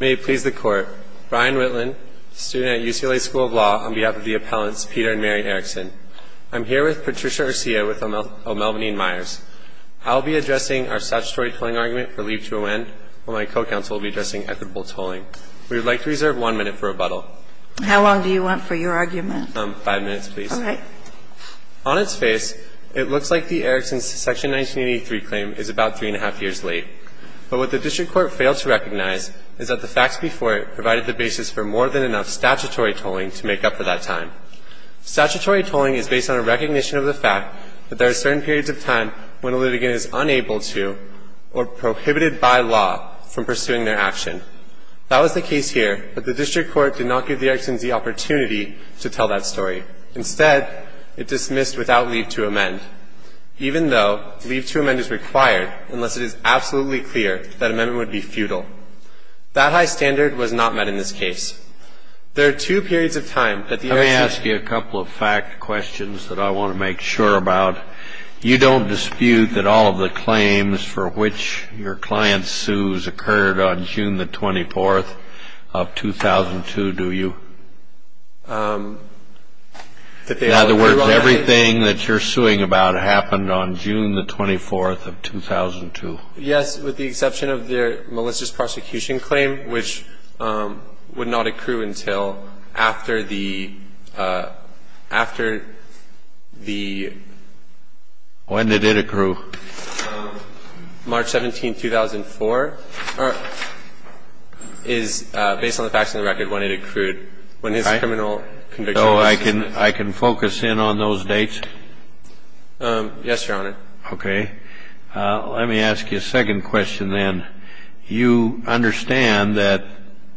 May it please the Court. Brian Whitlin, student at UCLA School of Law, on behalf of the appellants Peter and Mary Eriksen. I'm here with Patricia Urcia with O'Melvenine Myers. I'll be addressing our statutory tolling argument for Leave to Awend, while my co-counsel will be addressing equitable tolling. We would like to reserve one minute for rebuttal. How long do you want for your argument? Five minutes, please. All right. On its face, it looks like the Erikson Section 1983 claim is about three and a half years late. But what the District Court failed to recognize is that the facts before it provided the basis for more than enough statutory tolling to make up for that time. Statutory tolling is based on a recognition of the fact that there are certain periods of time when a litigant is unable to, or prohibited by law, from pursuing their action. That was the case here, but the District Court did not give the Eriksons the opportunity to tell that story. Instead, it dismissed without Leave to Awend, even though Leave to Awend is required unless it is absolutely clear that amendment would be futile. That high standard was not met in this case. There are two periods of time that the Erikson ---- Let me ask you a couple of fact questions that I want to make sure about. You don't dispute that all of the claims for which your client sues occurred on June the 24th of 2002, do you? In other words, everything that you're suing about happened on June the 24th of 2002? Yes, with the exception of their malicious prosecution claim, which would not accrue until after the ---- After the ---- When did it accrue? March 17, 2004, is based on the facts of the record when it accrued, when his criminal conviction was ---- So I can focus in on those dates? Yes, Your Honor. Okay. Let me ask you a second question then. You understand that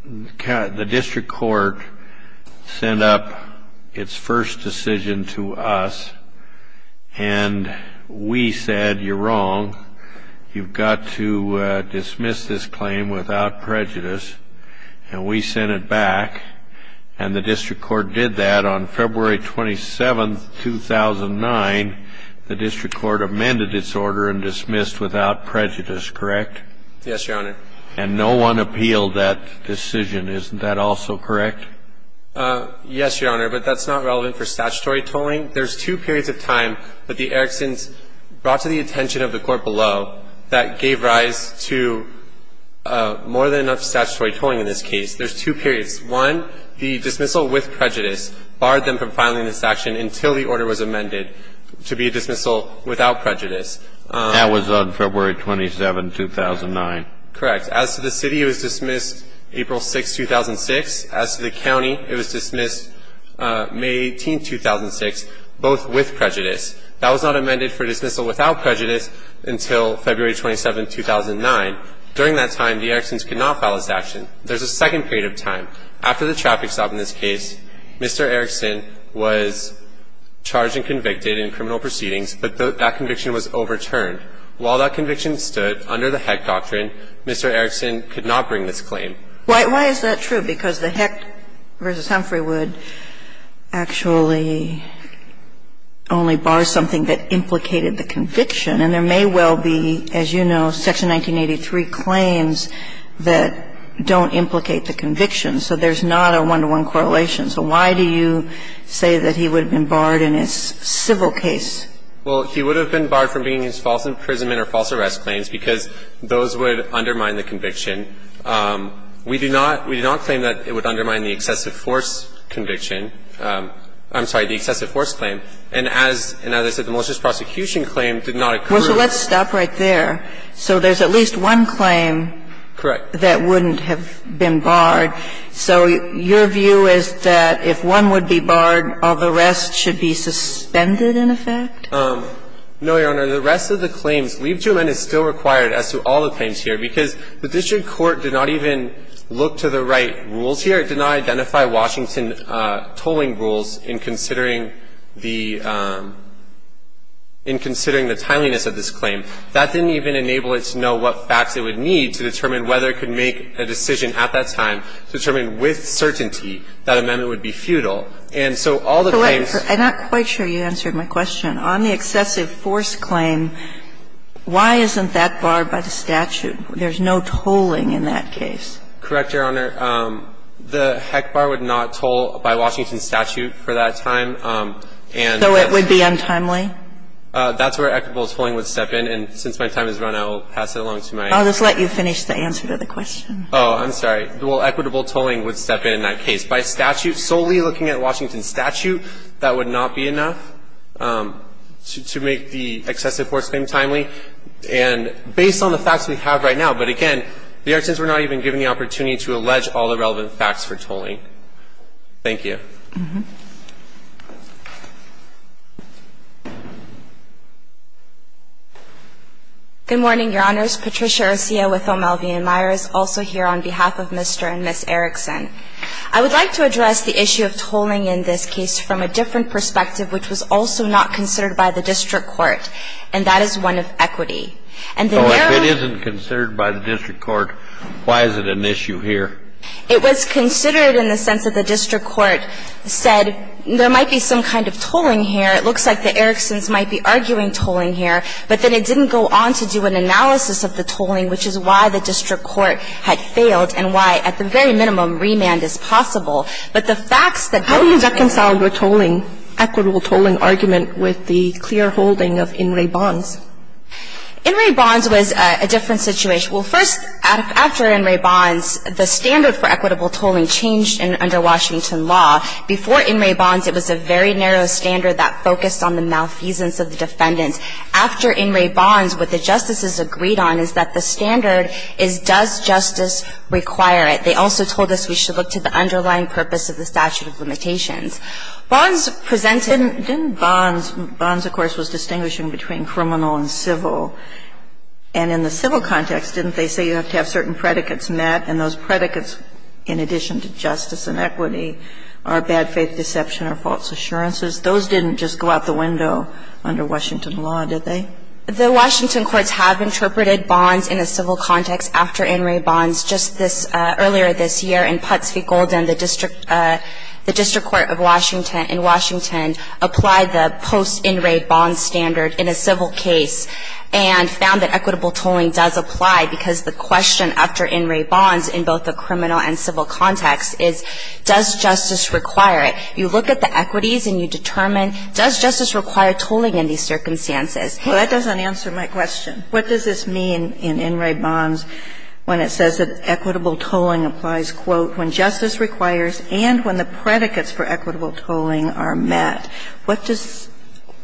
the district court sent up its first decision to us, and we said, you're wrong. You've got to dismiss this claim without prejudice. And we sent it back, and the district court did that. On February 27, 2009, the district court amended its order and dismissed without prejudice, correct? Yes, Your Honor. And no one appealed that decision. Isn't that also correct? Yes, Your Honor, but that's not relevant for statutory tolling. There's two periods of time that the Erickson's brought to the attention of the court below that gave rise to more than enough statutory tolling in this case. There's two periods. One, the dismissal with prejudice barred them from filing this action until the order was amended to be a dismissal without prejudice. That was on February 27, 2009. Correct. As to the city, it was dismissed April 6, 2006. As to the county, it was dismissed May 18, 2006, both with prejudice. That was not amended for dismissal without prejudice until February 27, 2009. During that time, the Erickson's could not file this action. There's a second period of time. After the traffic stop in this case, Mr. Erickson was charged and convicted in criminal proceedings, but that conviction was overturned. While that conviction stood under the Heck doctrine, Mr. Erickson could not bring this claim. Why is that true? Because the Heck v. Humphrey would actually only bar something that implicated the conviction. And there may well be, as you know, Section 1983 claims that don't implicate the conviction. So there's not a one-to-one correlation. So why do you say that he would have been barred in a civil case? Well, he would have been barred from bringing false imprisonment or false arrest claims because those would undermine the conviction. We do not claim that it would undermine the excessive force conviction. I'm sorry, the excessive force claim. No, Your Honor. The claim is that he would have been barred from bringing false imprisonment. And as the malicious prosecution claim did not occur. Well, so let's stop right there. So there's at least one claim. Correct. That wouldn't have been barred. So your view is that if one would be barred, all the rest should be suspended, in effect? No, Your Honor. The rest of the claims, leave to amend is still required as to all the claims here because the district court did not even look to the right rules here. It did not identify Washington tolling rules in considering the timeliness of this claim. That didn't even enable it to know what facts it would need to determine whether it could make a decision at that time to determine with certainty that amendment would be futile. And so all the claims. I'm not quite sure you answered my question. On the excessive force claim, why isn't that barred by the statute? There's no tolling in that case. Correct, Your Honor. The HEC bar would not toll by Washington's statute for that time. So it would be untimely? That's where equitable tolling would step in. And since my time has run out, I'll pass it along to my. I'll just let you finish the answer to the question. Oh, I'm sorry. Equitable tolling would step in that case. By statute, solely looking at Washington's statute, that would not be enough to make the excessive force claim timely. And based on the facts we have right now. But again, the Erickson's were not even given the opportunity to allege all the relevant facts for tolling. Thank you. Good morning, Your Honors. Patricia Garcia with O'Malvey & Myers, also here on behalf of Mr. and Ms. Erickson. I would like to address the issue of tolling in this case from a different perspective, which was also not considered by the district court. And that is one of equity. And then there are. So if it isn't considered by the district court, why is it an issue here? It was considered in the sense that the district court said there might be some kind of tolling here. It looks like the Erickson's might be arguing tolling here. But then it didn't go on to do an analysis of the tolling, which is why the district court had failed and why, at the very minimum, remand is possible. But the facts that. How do you reconcile your tolling, equitable tolling argument, with the clear holding of in-ray bonds? In-ray bonds was a different situation. Well, first, after in-ray bonds, the standard for equitable tolling changed under Washington law. Before in-ray bonds, it was a very narrow standard that focused on the malfeasance of the defendant. After in-ray bonds, what the justices agreed on is that the standard is, does justice require it? They also told us we should look to the underlying purpose of the statute of limitations. Bonds presented. Didn't bonds – bonds, of course, was distinguishing between criminal and civil. And in the civil context, didn't they say you have to have certain predicates met? And those predicates, in addition to justice and equity, are bad faith deception or false assurances. Those didn't just go out the window under Washington law, did they? The Washington courts have interpreted bonds in a civil context after in-ray bonds. Just this – earlier this year in Putts v. Golden, the district – the district court of Washington in Washington applied the post-in-ray bond standard in a civil case and found that equitable tolling does apply because the question after in-ray bonds in both the criminal and civil context is, does justice require it? You look at the equities and you determine, does justice require tolling in these circumstances? Well, that doesn't answer my question. What does this mean in in-ray bonds when it says that equitable tolling applies, quote, when justice requires and when the predicates for equitable tolling are met? What does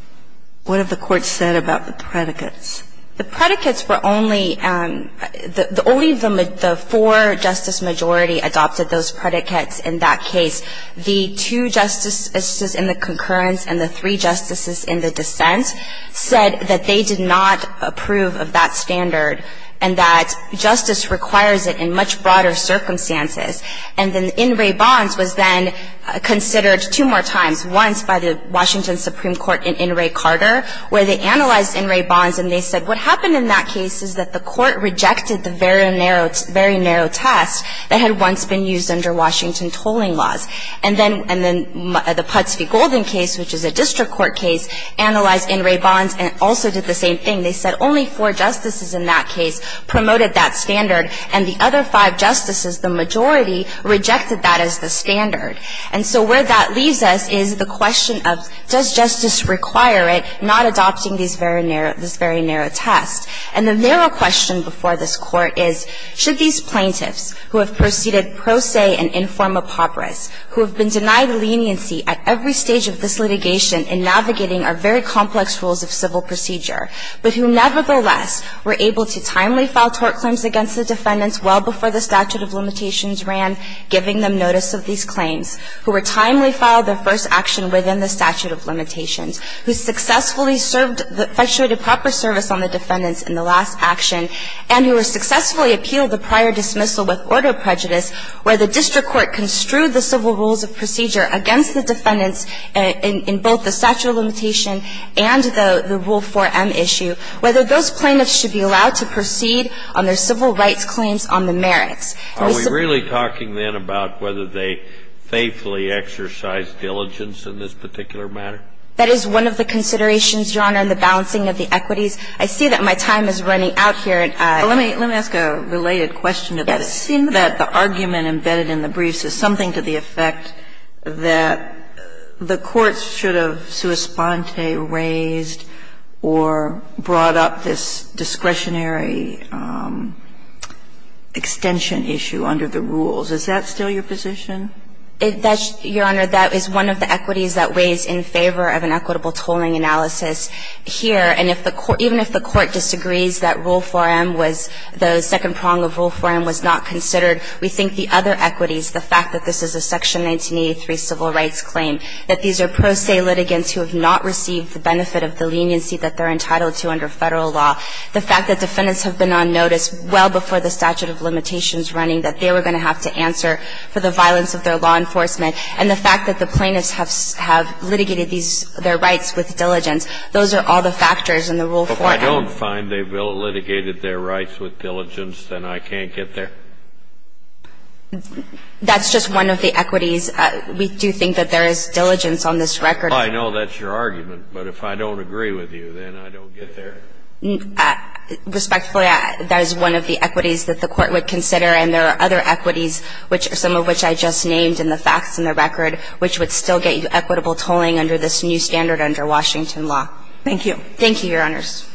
– what have the courts said about the predicates? The predicates were only – the only – the four-justice majority adopted those predicates in that case. The two justices in the concurrence and the three justices in the dissent said that they did not approve of that standard and that justice requires it in much broader circumstances. And then in-ray bonds was then considered two more times, once by the Washington Supreme Court in in-ray Carter where they analyzed in-ray bonds and they said what happened in that case is that the court rejected the very narrow – very narrow test that had once been used under Washington tolling laws. And then – and then the Putz v. Golden case, which is a district court case, analyzed in-ray bonds and also did the same thing. They said only four justices in that case promoted that standard and the other five justices, the majority, rejected that as the standard. And so where that leaves us is the question of does justice require it, not adopting these very narrow – this very narrow test. And the narrow question before this Court is should these plaintiffs who have proceeded pro se and in form apoprys, who have been denied leniency at every stage of this litigation in navigating our very complex rules of civil procedure, but who nevertheless were able to timely file tort claims against the defendants well before the statute of limitations ran, giving them notice of these claims, who were timely filed their proper service on the defendants in the last action, and who have successfully appealed the prior dismissal with order of prejudice, where the district court construed the civil rules of procedure against the defendants in both the statute of limitation and the Rule 4M issue, whether those plaintiffs should be allowed to proceed on their civil rights claims on the merits. Are we really talking then about whether they faithfully exercised diligence in this particular matter? That is one of the considerations, Your Honor, in the balancing of the equities. I see that my time is running out here. Let me ask a related question. It seems that the argument embedded in the briefs is something to the effect that the courts should have sua sponte raised or brought up this discretionary extension issue under the rules. Is that still your position? Your Honor, that is one of the equities that weighs in favor of an equitable tolling analysis here. And if the court – even if the court disagrees that Rule 4M was – the second prong of Rule 4M was not considered, we think the other equities, the fact that this is a Section 1983 civil rights claim, that these are pro se litigants who have not received the benefit of the leniency that they're entitled to under Federal law, the fact that defendants have been on notice well before the statute of limitations running, that they were going to have to answer for the violence of their law enforcement, and the fact that the plaintiffs have litigated their rights with diligence. Those are all the factors in the Rule 4M. If I don't find they've litigated their rights with diligence, then I can't get there? That's just one of the equities. We do think that there is diligence on this record. I know that's your argument. But if I don't agree with you, then I don't get there? Respectfully, that is one of the equities that the Court would consider. And there are other equities, which – some of which I just named in the facts in the record, which would still get you equitable tolling under this new standard under Washington law. Thank you. Thank you, Your Honors.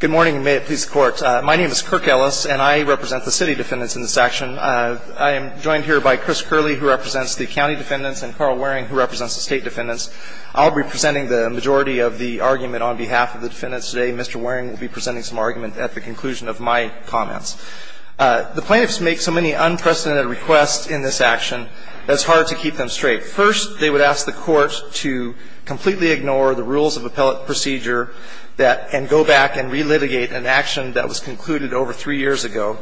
Good morning, and may it please the Court. My name is Kirk Ellis, and I represent the city defendants in this action. I am joined here by Chris Curley, who represents the county defendants, and Carl Waring, who represents the state defendants. I'll be presenting the majority of the argument on behalf of the defendants today. Mr. Waring will be presenting some argument at the conclusion of my comments. The plaintiffs make so many unprecedented requests in this action that it's hard to keep them straight. First, they would ask the Court to completely ignore the rules of appellate procedure and go back and relitigate an action that was concluded over three years ago.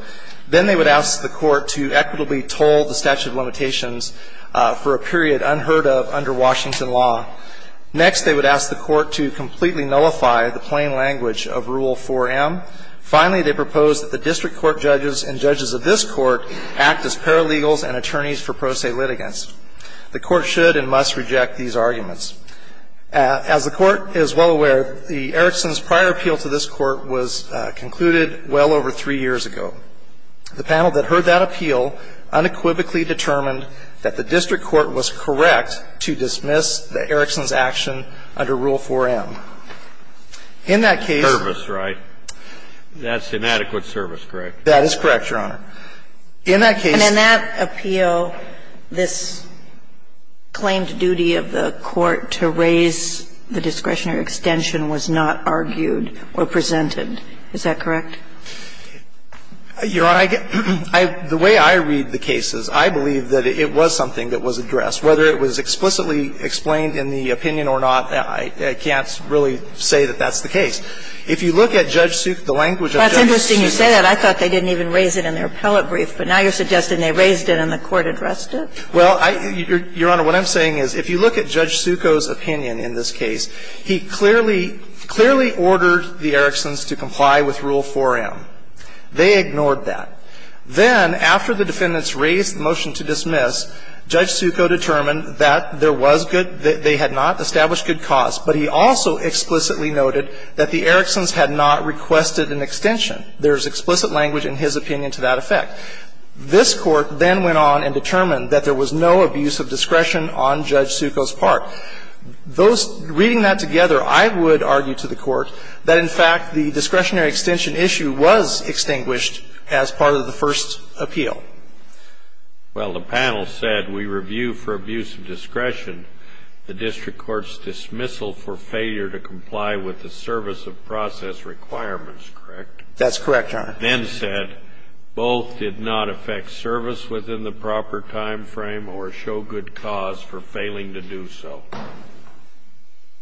Then they would ask the Court to equitably toll the statute of limitations for a period unheard of under Washington law. Next, they would ask the Court to completely nullify the plain language of Rule 4M. Finally, they propose that the district court judges and judges of this Court act as paralegals and attorneys for pro se litigants. The Court should and must reject these arguments. As the Court is well aware, the Erickson's prior appeal to this Court was concluded well over three years ago. The panel that heard that appeal unequivocally determined that the district court was correct to dismiss the Erickson's action under Rule 4M. In that case the case. Service, right? That's inadequate service, correct? That is correct, Your Honor. In that case the case. And in that appeal, this claimed duty of the Court to raise the discretionary extension was not argued or presented, is that correct? Your Honor, the way I read the cases, I believe that it was something that was addressed. Whether it was explicitly explained in the opinion or not, I can't really say that that's the case. If you look at Judge Suk, the language of Judge Suk. When you say that, I thought they didn't even raise it in their appellate brief. But now you're suggesting they raised it and the Court addressed it? Well, Your Honor, what I'm saying is if you look at Judge Sukoh's opinion in this case, he clearly, clearly ordered the Erickson's to comply with Rule 4M. They ignored that. Then, after the defendants raised the motion to dismiss, Judge Sukoh determined that there was good, they had not established good cause, but he also explicitly noted that the Erickson's had not requested an extension. There is explicit language in his opinion to that effect. This Court then went on and determined that there was no abuse of discretion on Judge Sukoh's part. Those – reading that together, I would argue to the Court that, in fact, the discretionary extension issue was extinguished as part of the first appeal. Well, the panel said we review for abuse of discretion the district court's dismissal for failure to comply with the service of process requirements, correct? That's correct, Your Honor. Then said both did not affect service within the proper time frame or show good cause for failing to do so.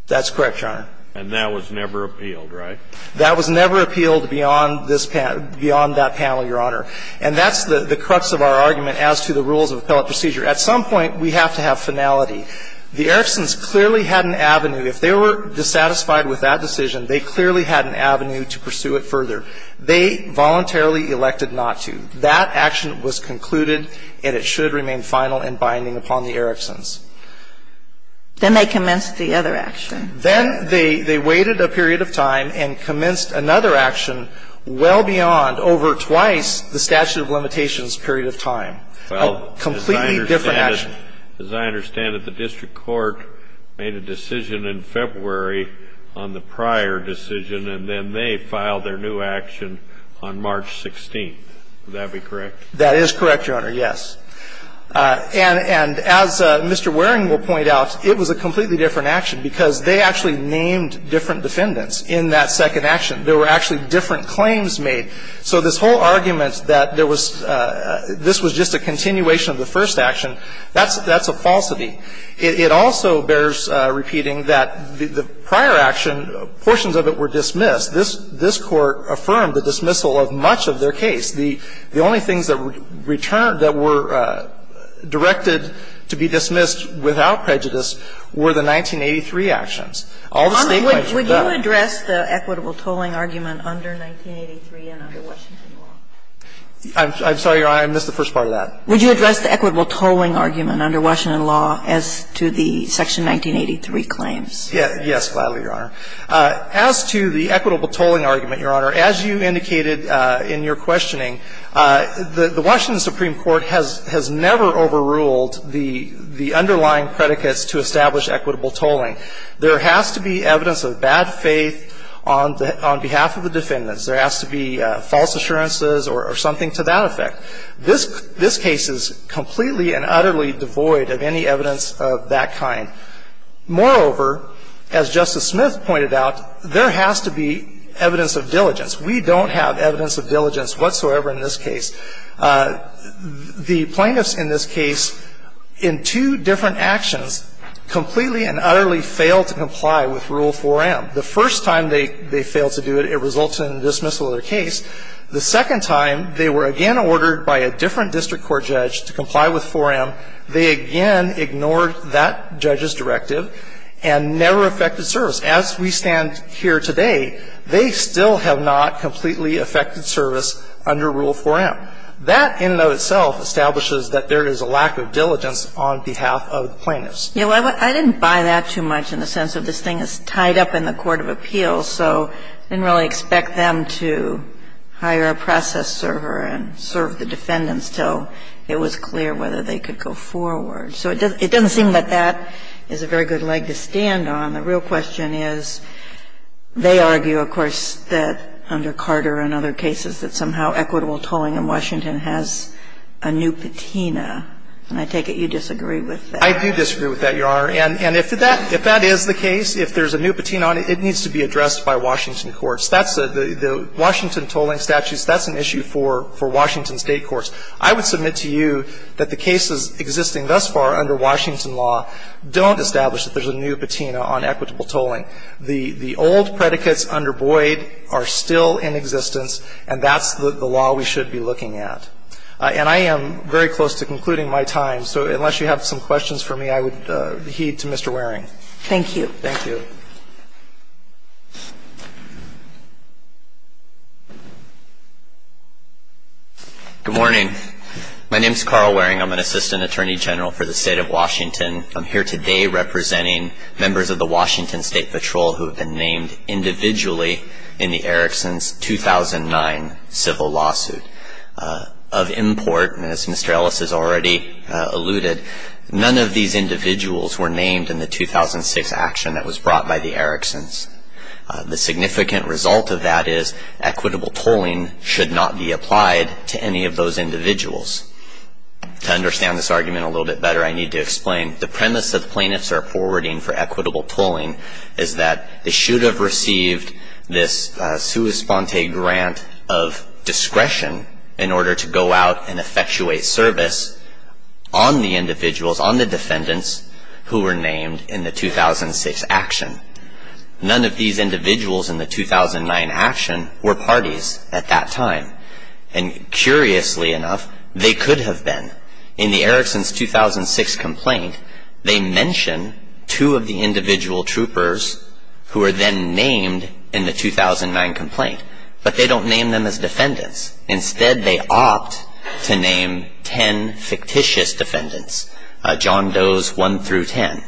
That's correct, Your Honor. And that was never appealed, right? That was never appealed beyond this panel – beyond that panel, Your Honor. And that's the crux of our argument as to the rules of appellate procedure. At some point, we have to have finality. The Erickson's clearly had an avenue. If they were dissatisfied with that decision, they clearly had an avenue to pursue it further. They voluntarily elected not to. That action was concluded, and it should remain final and binding upon the Erickson's. Then they commenced the other action. Then they waited a period of time and commenced another action well beyond, over twice the statute of limitations period of time, a completely different action. As I understand it, the district court made a decision in February on the prior decision, and then they filed their new action on March 16th. Would that be correct? That is correct, Your Honor, yes. And as Mr. Waring will point out, it was a completely different action because they actually named different defendants in that second action. There were actually different claims made. So this whole argument that there was – this was just a continuation of the first action, that's a falsity. It also bears repeating that the prior action, portions of it were dismissed. This Court affirmed the dismissal of much of their case. The only things that were directed to be dismissed without prejudice were the 1983 actions. All the state claims were done. Would you address the equitable tolling argument under 1983 and under Washington law? I'm sorry, Your Honor. I missed the first part of that. Would you address the equitable tolling argument under Washington law as to the Section 1983 claims? Yes, gladly, Your Honor. As to the equitable tolling argument, Your Honor, as you indicated in your questioning, the Washington Supreme Court has never overruled the underlying predicates to establish equitable tolling. There has to be evidence of bad faith on behalf of the defendants. There has to be false assurances or something to that effect. This case is completely and utterly devoid of any evidence of that kind. Moreover, as Justice Smith pointed out, there has to be evidence of diligence. We don't have evidence of diligence whatsoever in this case. The plaintiffs in this case, in two different actions, completely and utterly failed to comply with Rule 4M. The first time they failed to do it, it resulted in the dismissal of their case. The second time, they were again ordered by a different district court judge to comply with 4M. They again ignored that judge's directive and never effected service. As we stand here today, they still have not completely effected service under Rule 4M. That in and of itself establishes that there is a lack of diligence on behalf of the plaintiffs. Yeah, well, I didn't buy that too much in the sense of this thing is tied up in the case itself. I mean, I think it's a very good question, but I don't think it's a very good question to hire a process server and serve the defendants until it was clear whether they could go forward. So it doesn't seem that that is a very good leg to stand on. The real question is, they argue, of course, that under Carter and other cases, that somehow equitable tolling in Washington has a new patina. And I take it you disagree with that. I do disagree with that, Your Honor. And if that is the case, if there's a new patina on it, it needs to be addressed by Washington courts. That's the Washington tolling statutes, that's an issue for Washington state courts. I would submit to you that the cases existing thus far under Washington law don't establish that there's a new patina on equitable tolling. The old predicates under Boyd are still in existence, and that's the law we should be looking at. And I am very close to concluding my time, so unless you have some questions for me, I would heed to Mr. Waring. Thank you. Thank you. Good morning. My name is Carl Waring. I'm an assistant attorney general for the State of Washington. I'm here today representing members of the Washington State Patrol who have been named individually in the Erickson's 2009 civil lawsuit. Of import, and as Mr. Ellis has already alluded, none of these individuals were named in the 2006 action that was brought by the Erickson's. The significant result of that is equitable tolling should not be applied to any of those individuals. To understand this argument a little bit better, I need to explain the premise that the plaintiffs are forwarding for equitable tolling is that they should have received this sua sponte grant of discretion in order to go out and effectuate service on the individuals, on the defendants who were named in the 2006 action. None of these individuals in the 2009 action were parties at that time. And curiously enough, they could have been. In the Erickson's 2006 complaint, they mention two of the individual troopers who were then named in the 2009 complaint, but they don't name them as defendants. Instead, they opt to name ten fictitious defendants, John Doe's 1 through 10.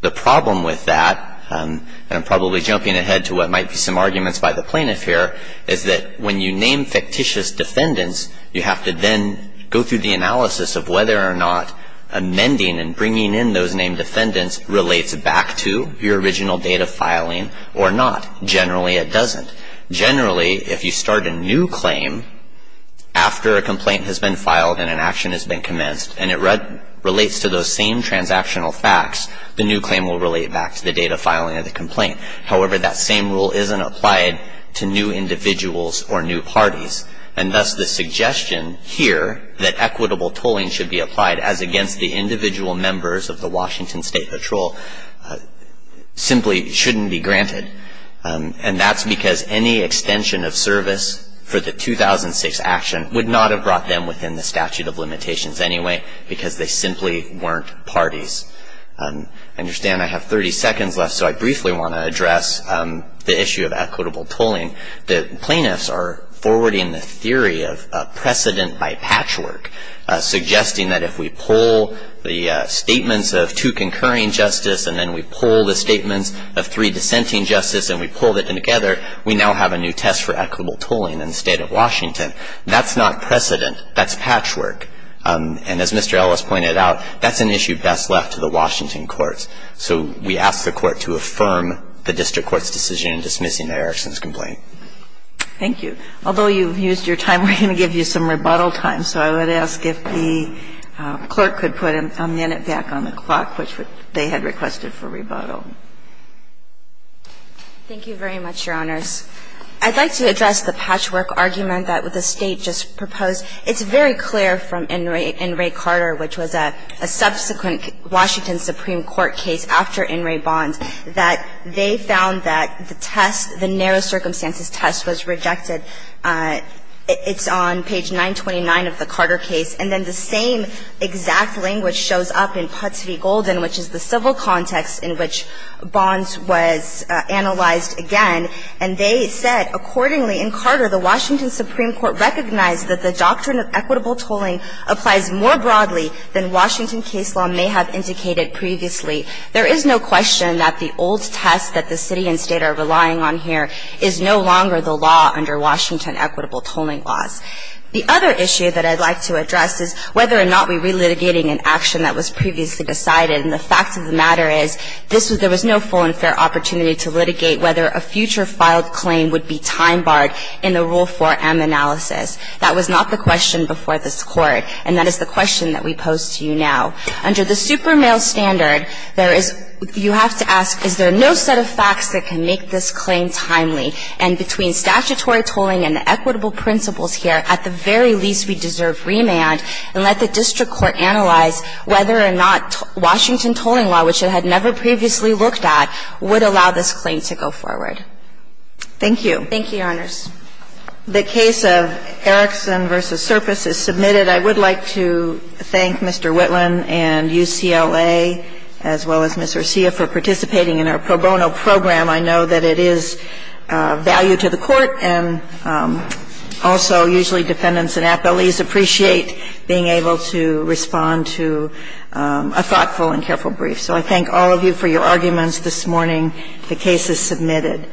The problem with that, and I'm probably jumping ahead to what might be some arguments by the plaintiff here, is that when you name fictitious defendants, you have to then go through the analysis of whether or not amending and bringing in those named defendants relates back to your original date of filing or not. Generally it doesn't. Generally, if you start a new claim after a complaint has been filed and an action has been commenced and it relates to those same transactional facts, the new claim will relate back to the date of filing of the complaint. However, that same rule isn't applied to new individuals or new parties. And thus, the suggestion here that equitable tolling should be applied as against the individual members of the Washington State Patrol simply shouldn't be granted. And that's because any extension of service for the 2006 action would not have brought them within the statute of limitations anyway, because they simply weren't parties. I understand I have 30 seconds left, so I briefly want to address the issue of equitable tolling. The plaintiffs are forwarding the theory of precedent by patchwork, suggesting that if we pull the statements of two concurring justice and then we pull the statements of three dissenting justice and we pull them together, we now have a new test for equitable tolling in the State of Washington. That's not precedent. That's patchwork. And as Mr. Ellis pointed out, that's an issue best left to the Washington courts. So we ask the court to affirm the district court's decision in dismissing the Erickson's complaint. Thank you. Although you've used your time, we're going to give you some rebuttal time. So I would ask if the clerk could put a minute back on the clock, which they had requested for rebuttal. Thank you very much, Your Honors. I'd like to address the patchwork argument that the State just proposed. It's very clear from In re Carter, which was a subsequent Washington Supreme Court case after In re Bond, that they found that the test, the narrow circumstances test, was rejected. It's on page 929 of the Carter case. And then the same exact language shows up in Putsvi Golden, which is the civil context in which Bonds was analyzed again. And they said, accordingly, in Carter, the Washington Supreme Court recognized that the doctrine of equitable tolling applies more broadly than Washington case law may have indicated previously. There is no question that the old test that the city and state are relying on here is no longer the law under Washington equitable tolling laws. The other issue that I'd like to address is whether or not we're re-litigating an action that was previously decided. And the fact of the matter is, there was no full and fair opportunity to litigate whether a future filed claim would be time barred in the Rule 4M analysis. That was not the question before this Court. And that is the question that we pose to you now. Under the super male standard, there is, you have to ask, is there no set of facts that can make this claim timely? And between statutory tolling and the equitable principles here, at the very least, we deserve remand and let the district court analyze whether or not Washington tolling law, which it had never previously looked at, would allow this claim to go forward. Thank you. Thank you, Your Honors. The case of Erickson v. Surface is submitted. I would like to thank Mr. Whitlam and UCLA, as well as Ms. Garcia, for participating in our pro bono program. I know that it is of value to the Court, and also usually defendants and appellees appreciate being able to respond to a thoughtful and careful brief. So I thank all of you for your arguments this morning. The case is submitted.